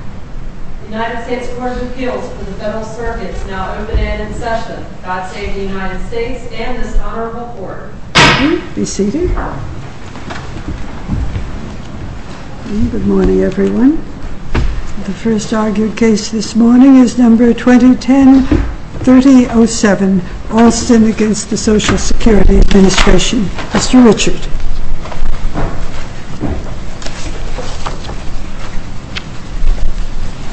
The United States Court of Appeals for the Federal Circuit is now open and in session. God save the United States and this honorable Court. Be seated. Good morning, everyone. The first argued case this morning is No. 2010-3007, Alston v. SSA. Mr. Richard.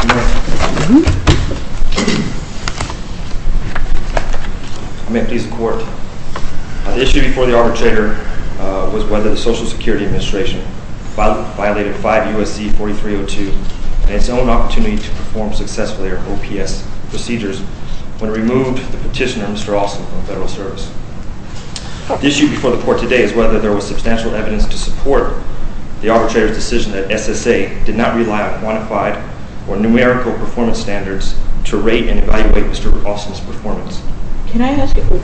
Good morning. May it please the Court. The issue before the arbitrator was whether the Social Security Administration violated 5 U.S.C. 4302 and its own opportunity to perform successfully their OPS procedures when it removed the petitioner, Mr. Alston, from federal service. The issue before the Court today is whether there was substantial evidence to support the arbitrator's decision that SSA did not rely on quantified or numerical performance standards to rate and evaluate Mr. Alston's performance. Can I ask you,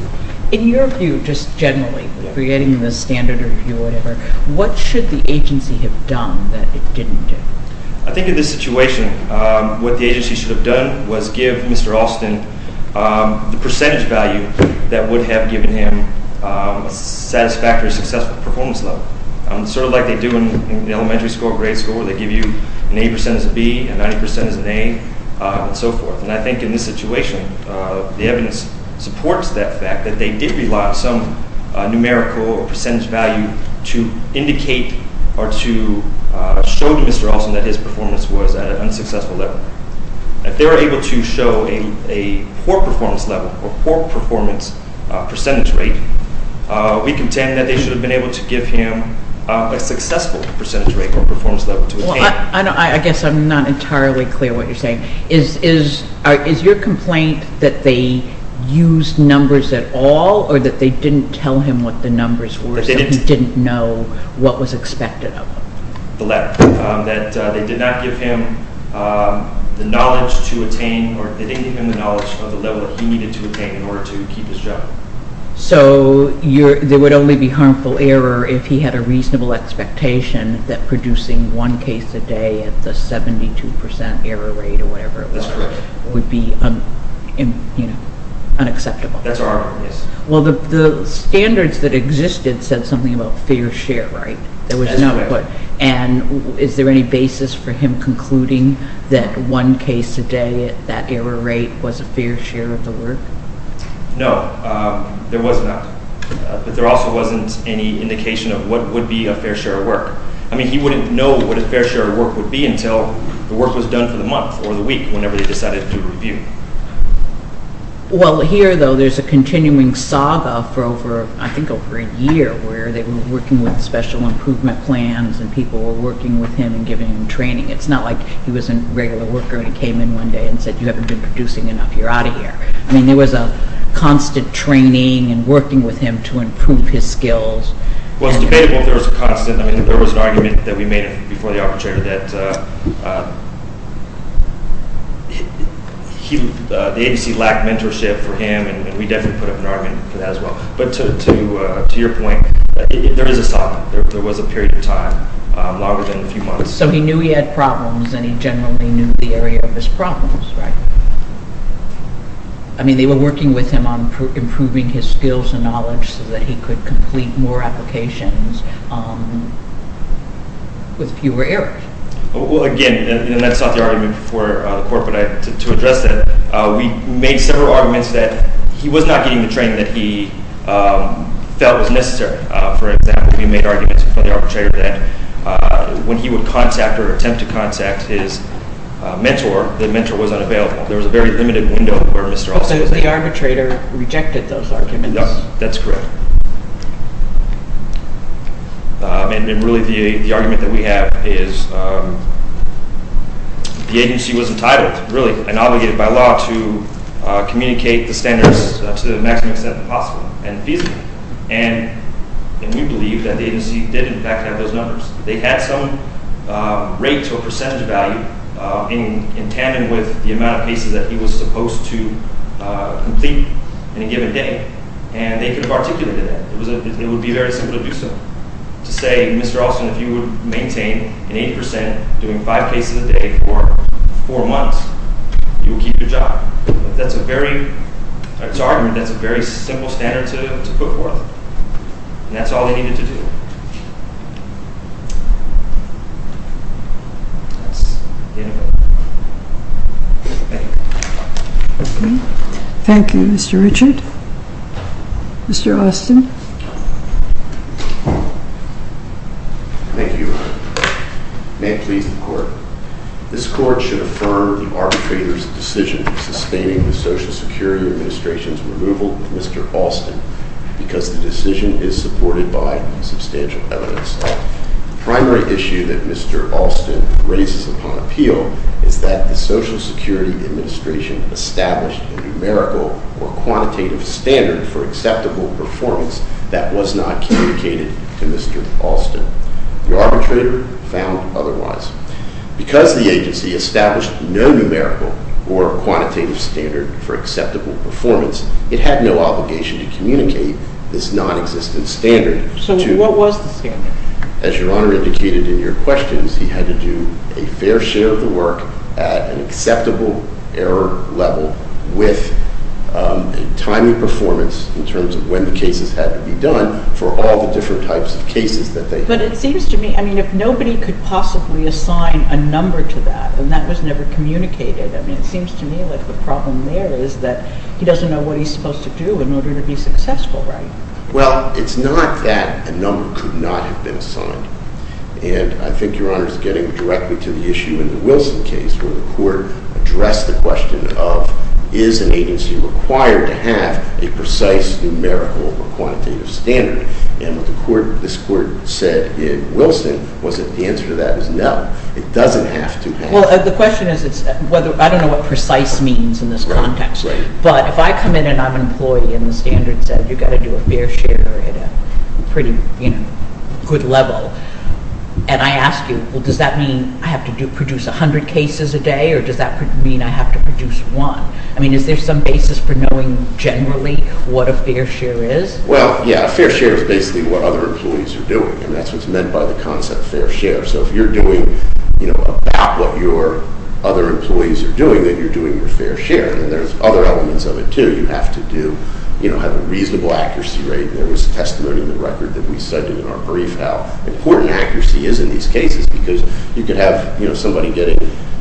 in your view, just generally, creating the standard review or whatever, what should the agency have done that it didn't do? I think in this situation, what the agency should have done was give Mr. Alston the percentage value that would have given him a satisfactory, successful performance level. Sort of like they do in elementary school, grade school, where they give you an 80% as a B, a 90% as an A, and so forth. And I think in this situation, the evidence supports that fact, that they did rely on some numerical percentage value to indicate or to show to Mr. Alston that his performance was at an unsuccessful level. If they were able to show a poor performance level or poor performance percentage rate, we contend that they should have been able to give him a successful percentage rate or performance level to attain. I guess I'm not entirely clear what you're saying. Is your complaint that they used numbers at all, or that they didn't tell him what the numbers were, so he didn't know what was expected of him? The latter. That they did not give him the knowledge to attain, or they didn't give him the knowledge of the level that he needed to attain in order to keep his job. So there would only be harmful error if he had a reasonable expectation that producing one case a day at the 72% error rate or whatever it was would be unacceptable. That's correct. Well, the standards that existed said something about fair share, right? That's correct. And is there any basis for him concluding that one case a day at that error rate was a fair share of the work? No, there was not. But there also wasn't any indication of what would be a fair share of work. I mean, he wouldn't know what a fair share of work would be until the work was done for the month or the week whenever they decided to review. Well, here, though, there's a continuing saga for over, I think, over a year where they were working with special improvement plans, and people were working with him and giving him training. It's not like he was a regular worker and he came in one day and said, You haven't been producing enough. You're out of here. I mean, there was a constant training and working with him to improve his skills. Well, it's debatable if there was a constant. I mean, there was an argument that we made before the arbitrator that the agency lacked mentorship for him, and we definitely put up an argument for that as well. But to your point, there is a stop. There was a period of time longer than a few months. So he knew he had problems, and he generally knew the area of his problems, right? I mean, they were working with him on improving his skills and knowledge so that he could complete more applications with fewer errors. Well, again, and that's not the argument for the court, but to address that, we made several arguments that he was not getting the training that he felt was necessary. For example, we made arguments before the arbitrator that when he would contact or attempt to contact his mentor, the mentor was unavailable. There was a very limited window for Mr. Austin. But the arbitrator rejected those arguments. That's correct. And really, the argument that we have is the agency was entitled, really, and obligated by law to communicate the standards to the maximum extent possible and feasible. And we believe that the agency did, in fact, have those numbers. They had some rate or percentage value in tandem with the amount of cases that he was supposed to complete in a given day. And they could have articulated that. It would be very simple to do so, to say, Mr. Austin, if you would maintain an 80 percent, doing five cases a day for four months, you will keep your job. That's a very simple standard to put forth. And that's all they needed to do. That's the end of it. Thank you. Okay. Thank you, Mr. Richard. Mr. Austin. Thank you. May it please the Court. This Court should affirm the arbitrator's decision sustaining the Social Security Administration's removal of Mr. Austin because the decision is supported by substantial evidence. The primary issue that Mr. Austin raises upon appeal is that the Social Security Administration established a numerical or quantitative standard for acceptable performance that was not communicated to Mr. Austin. The arbitrator found otherwise. Because the agency established no numerical or quantitative standard for acceptable performance, it had no obligation to communicate this nonexistent standard. So what was the standard? As Your Honor indicated in your questions, he had to do a fair share of the work at an acceptable error level with a timely performance in terms of when the cases had to be done for all the different types of cases that they had. But it seems to me, I mean, if nobody could possibly assign a number to that and that was never communicated, I mean, it seems to me like the problem there is that he doesn't know what he's supposed to do in order to be successful, right? Well, it's not that a number could not have been assigned. And I think Your Honor is getting directly to the issue in the Wilson case where the Court addressed the question of is an agency required to have a precise numerical or quantitative standard? And what this Court said in Wilson was that the answer to that is no, it doesn't have to be. Well, the question is, I don't know what precise means in this context. But if I come in and I'm an employee and the standard says you've got to do a fair share at a pretty good level, and I ask you, well, does that mean I have to produce 100 cases a day or does that mean I have to produce one? I mean, is there some basis for knowing generally what a fair share is? Well, yeah, a fair share is basically what other employees are doing. And that's what's meant by the concept of fair share. So if you're doing, you know, about what your other employees are doing, then you're doing your fair share. And there's other elements of it, too. You have to do, you know, have a reasonable accuracy rate. There was testimony in the record that we cited in our brief how important accuracy is in these cases because you could have, you know, somebody getting,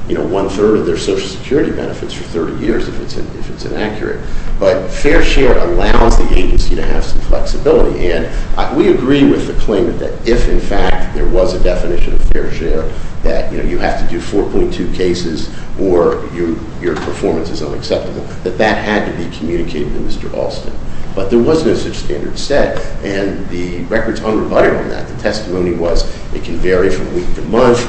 you know, one-third of their Social Security benefits for 30 years if it's inaccurate. But fair share allows the agency to have some flexibility. And we agree with the claim that if, in fact, there was a definition of fair share that, you know, you have to do 4.2 cases or your performance is unacceptable, that that had to be communicated to Mr. Alston. But there was no such standard set. And the record's unrebutted on that. The testimony was it can vary from week to month.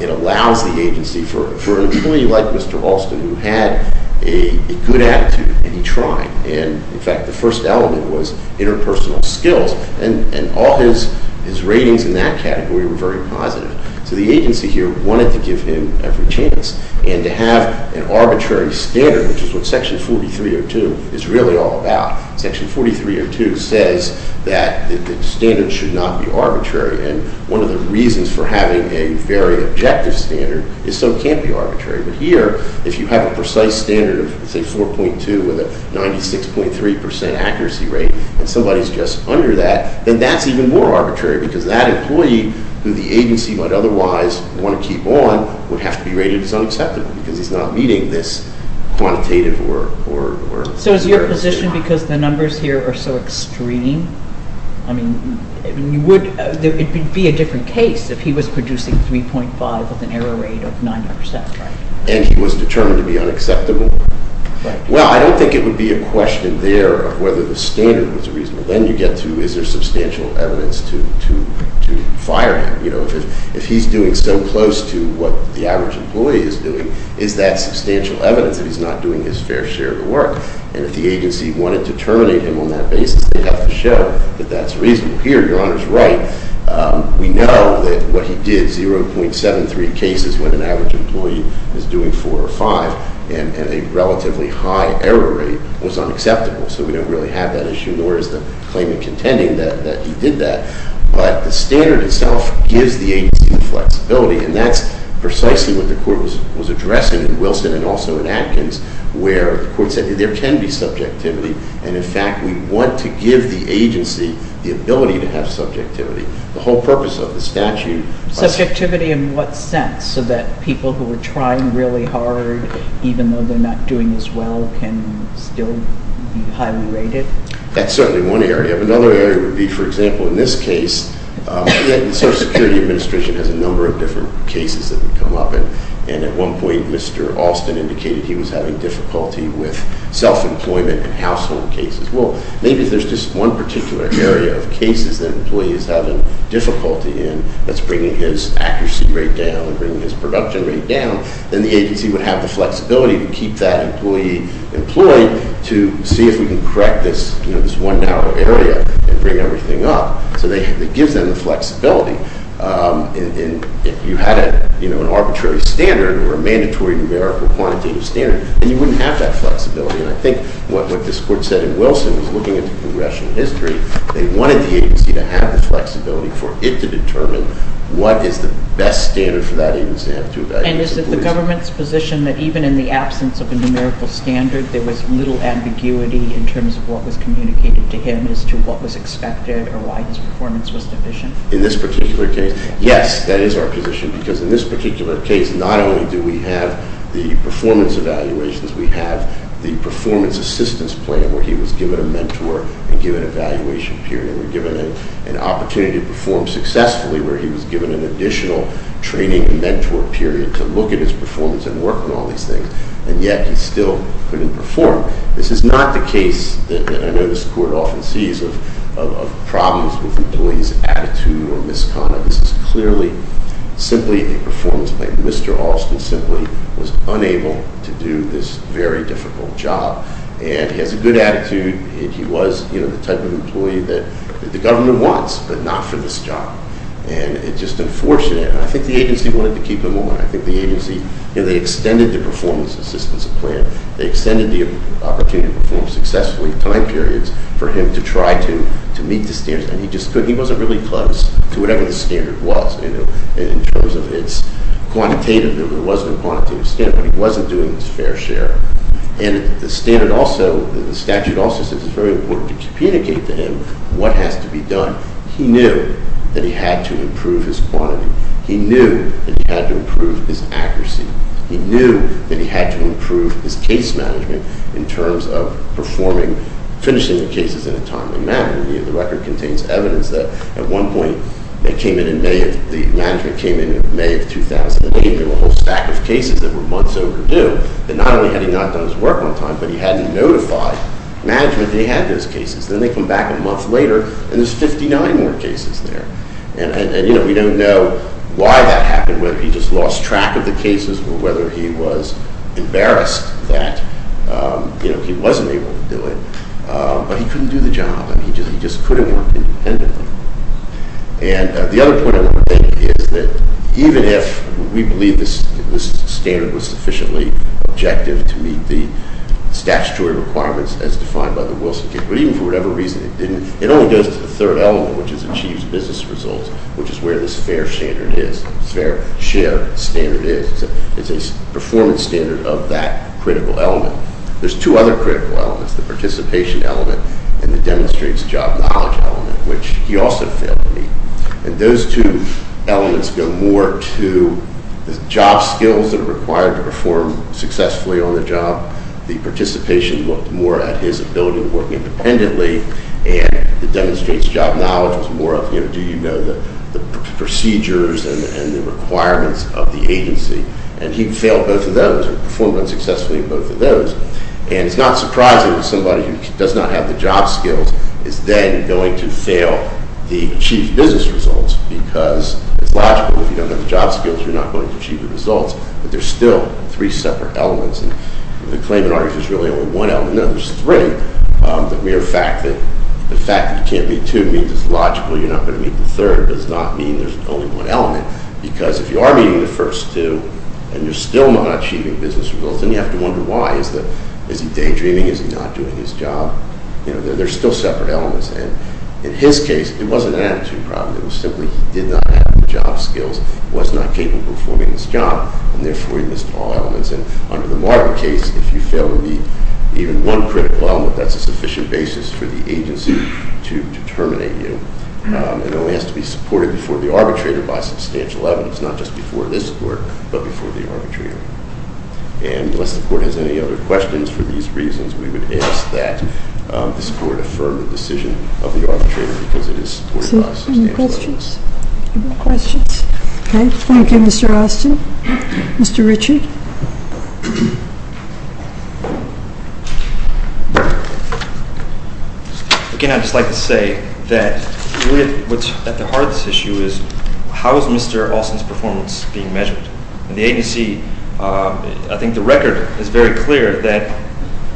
It allows the agency for an employee like Mr. Alston who had a good attitude and he tried. And, in fact, the first element was interpersonal skills. And all his ratings in that category were very positive. So the agency here wanted to give him every chance. And to have an arbitrary standard, which is what Section 4302 is really all about, Section 4302 says that the standard should not be arbitrary. And one of the reasons for having a very objective standard is so it can't be arbitrary. But here, if you have a precise standard of, say, 4.2 with a 96.3 percent accuracy rate, and somebody's just under that, then that's even more arbitrary because that employee, who the agency might otherwise want to keep on, would have to be rated as unacceptable because he's not meeting this quantitative or zero standard. So is your position because the numbers here are so extreme? I mean, it would be a different case if he was producing 3.5 with an error rate of 9 percent, right? And he was determined to be unacceptable? Right. Well, I don't think it would be a question there of whether the standard was reasonable. Then you get to is there substantial evidence to fire him. If he's doing so close to what the average employee is doing, is that substantial evidence that he's not doing his fair share of the work? And if the agency wanted to terminate him on that basis, they'd have to show that that's reasonable. Here, Your Honor's right. We know that what he did, 0.73 cases when an average employee is doing 4 or 5, and a relatively high error rate, was unacceptable. So we don't really have that issue, nor is the claimant contending that he did that. But the standard itself gives the agency the flexibility, and that's precisely what the court was addressing in Wilson and also in Atkins, where the court said there can be subjectivity, and, in fact, we want to give the agency the ability to have subjectivity. The whole purpose of the statute is to Subjectivity in what sense, so that people who are trying really hard, even though they're not doing as well, can still be highly rated? That's certainly one area. Another area would be, for example, in this case, the Social Security Administration has a number of different cases that come up, and at one point Mr. Alston indicated he was having difficulty with self-employment and household cases. Well, maybe if there's just one particular area of cases that an employee is having difficulty in that's bringing his accuracy rate down and bringing his production rate down, then the agency would have the flexibility to keep that employee employed to see if we can correct this one narrow area and bring everything up. So it gives them the flexibility. If you had an arbitrary standard or a mandatory numerical quantitative standard, then you wouldn't have that flexibility, and I think what this court said in Wilson was looking at the progression of history. They wanted the agency to have the flexibility for it to determine what is the best standard for that agency to have to evaluate employees. And is it the government's position that even in the absence of a numerical standard, there was little ambiguity in terms of what was communicated to him as to what was expected or why his performance was deficient? In this particular case, yes, that is our position, because in this particular case not only do we have the performance evaluations, we have the performance assistance plan where he was given a mentor and given an evaluation period and we're given an opportunity to perform successfully where he was given an additional training and mentor period to look at his performance and work on all these things, and yet he still couldn't perform. This is not the case that I know this court often sees of problems with employees' attitude or misconduct. This is clearly simply a performance plan. Mr. Alston simply was unable to do this very difficult job, and he has a good attitude and he was the type of employee that the government wants, but not for this job, and it's just unfortunate. And I think the agency wanted to keep him on. I think the agency, you know, they extended the performance assistance plan. They extended the opportunity to perform successfully time periods for him to try to meet the standards, and he just couldn't. He wasn't really close to whatever the standard was, you know, in terms of its quantitative, there wasn't a quantitative standard, but he wasn't doing his fair share. And the standard also, the statute also says it's very important to communicate to him what has to be done. He knew that he had to improve his quantity. He knew that he had to improve his accuracy. He knew that he had to improve his case management in terms of performing, finishing the cases in a timely manner. The record contains evidence that at one point, it came in in May, the management came in in May of 2008. There were a whole stack of cases that were months overdue, and not only had he not done his work on time, but he hadn't notified management he had those cases. Then they come back a month later, and there's 59 more cases there. And, you know, we don't know why that happened, whether he just lost track of the cases or whether he was embarrassed that, you know, he wasn't able to do it. But he couldn't do the job. I mean, he just couldn't work independently. And the other point I want to make is that even if we believe this standard was sufficiently objective to meet the statutory requirements as defined by the Wilson case, but even for whatever reason it didn't, it only goes to the third element, which is achieved business results, which is where this fair share standard is. It's a performance standard of that critical element. There's two other critical elements, the participation element and the demonstrates job knowledge element, which he also failed to meet. And those two elements go more to the job skills that are required to perform successfully on the job. The participation looked more at his ability to work independently, and the demonstrates job knowledge was more of, you know, do you know the procedures and the requirements of the agency? And he failed both of those or performed unsuccessfully in both of those. And it's not surprising that somebody who does not have the job skills is then going to fail the achieved business results because it's logical if you don't have the job skills, you're not going to achieve the results. But there's still three separate elements. And the claimant argues there's really only one element. No, there's three. The mere fact that you can't meet two means it's logical you're not going to meet the third. It does not mean there's only one element because if you are meeting the first two and you're still not achieving business results, then you have to wonder why. Is he daydreaming? Is he not doing his job? You know, there's still separate elements. And in his case, it wasn't an attitude problem. It was simply he did not have the job skills, was not capable of performing his job, and therefore he missed all elements. And under the Marvin case, if you fail to meet even one critical element, that's a sufficient basis for the agency to determine you. And it only has to be supported before the arbitrator by substantial evidence, not just before this Court but before the arbitrator. And unless the Court has any other questions for these reasons, we would ask that this Court affirm the decision of the arbitrator because it is supported by substantial evidence. Any questions? No questions? Okay. Thank you, Mr. Austin. Mr. Richard? Again, I'd just like to say that really what's at the heart of this issue is how is Mr. Austin's performance being measured? And the agency, I think the record is very clear that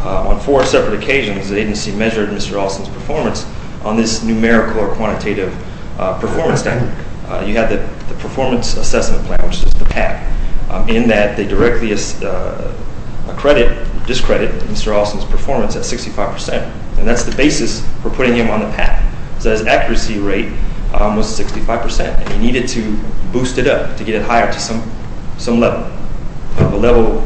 on four separate occasions, the agency measured Mr. Austin's performance on this numerical or quantitative performance standard. You have the performance assessment plan, which is the PAC, in that they directly discredit Mr. Austin's performance at 65 percent, and that's the basis for putting him on the PAC. So his accuracy rate was 65 percent, and he needed to boost it up to get it higher to some level. The level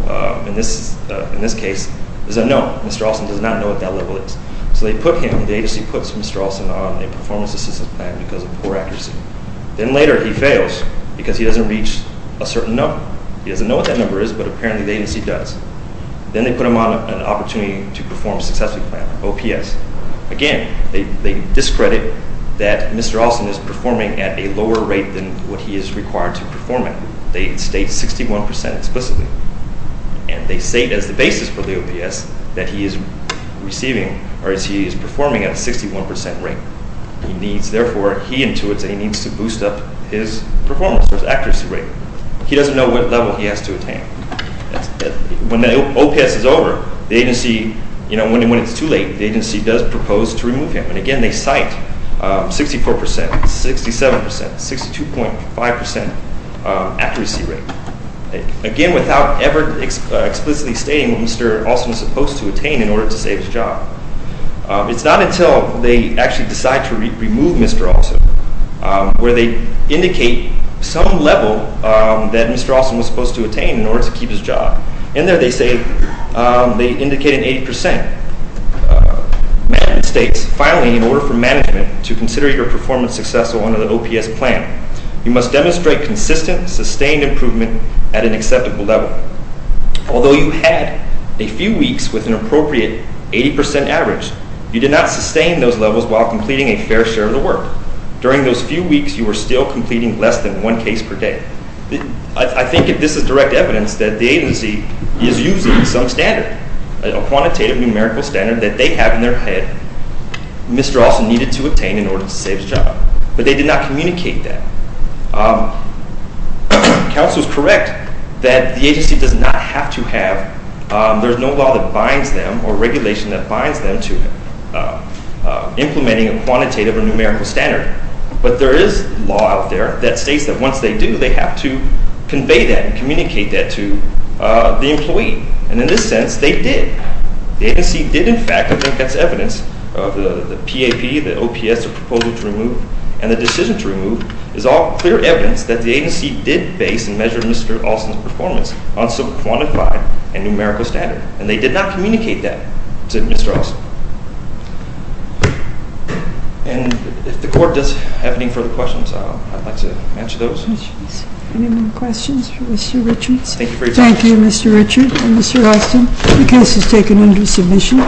in this case is unknown. Mr. Austin does not know what that level is. So they put him, the agency puts Mr. Austin on a performance assessment plan because of poor accuracy. Then later he fails because he doesn't reach a certain number. He doesn't know what that number is, but apparently the agency does. Then they put him on an opportunity to perform successfully plan, OPS. Again, they discredit that Mr. Austin is performing at a lower rate than what he is required to perform at. They state 61 percent explicitly, and they state as the basis for the OPS that he is performing at a 61 percent rate. Therefore, he intuits that he needs to boost up his performance or his accuracy rate. He doesn't know what level he has to attain. When the OPS is over, when it's too late, the agency does propose to remove him. Again, they cite 64 percent, 67 percent, 62.5 percent accuracy rate. Again, without ever explicitly stating what Mr. Austin was supposed to attain in order to save his job. It's not until they actually decide to remove Mr. Austin where they indicate some level that Mr. Austin was supposed to attain in order to keep his job. In there they indicate an 80 percent. Finally, in order for management to consider your performance successful under the OPS plan, you must demonstrate consistent, sustained improvement at an acceptable level. Although you had a few weeks with an appropriate 80 percent average, you did not sustain those levels while completing a fair share of the work. During those few weeks, you were still completing less than one case per day. I think this is direct evidence that the agency is using some standard, a quantitative numerical standard that they have in their head. Mr. Austin needed to attain in order to save his job, but they did not communicate that. Counsel is correct that the agency does not have to have, there's no law that binds them or regulation that binds them to implementing a quantitative or numerical standard. But there is law out there that states that once they do, they have to convey that and communicate that to the employee. And in this sense, they did. The agency did in fact, I think that's evidence of the PAP, the OPS proposal to remove and the decision to remove, is all clear evidence that the agency did base and measure Mr. Austin's performance on some quantified and numerical standard. And they did not communicate that to Mr. Austin. And if the court does have any further questions, I'd like to answer those. Any more questions for Mr. Richards? Thank you very much. Thank you, Mr. Richards and Mr. Austin. The case is taken under submission.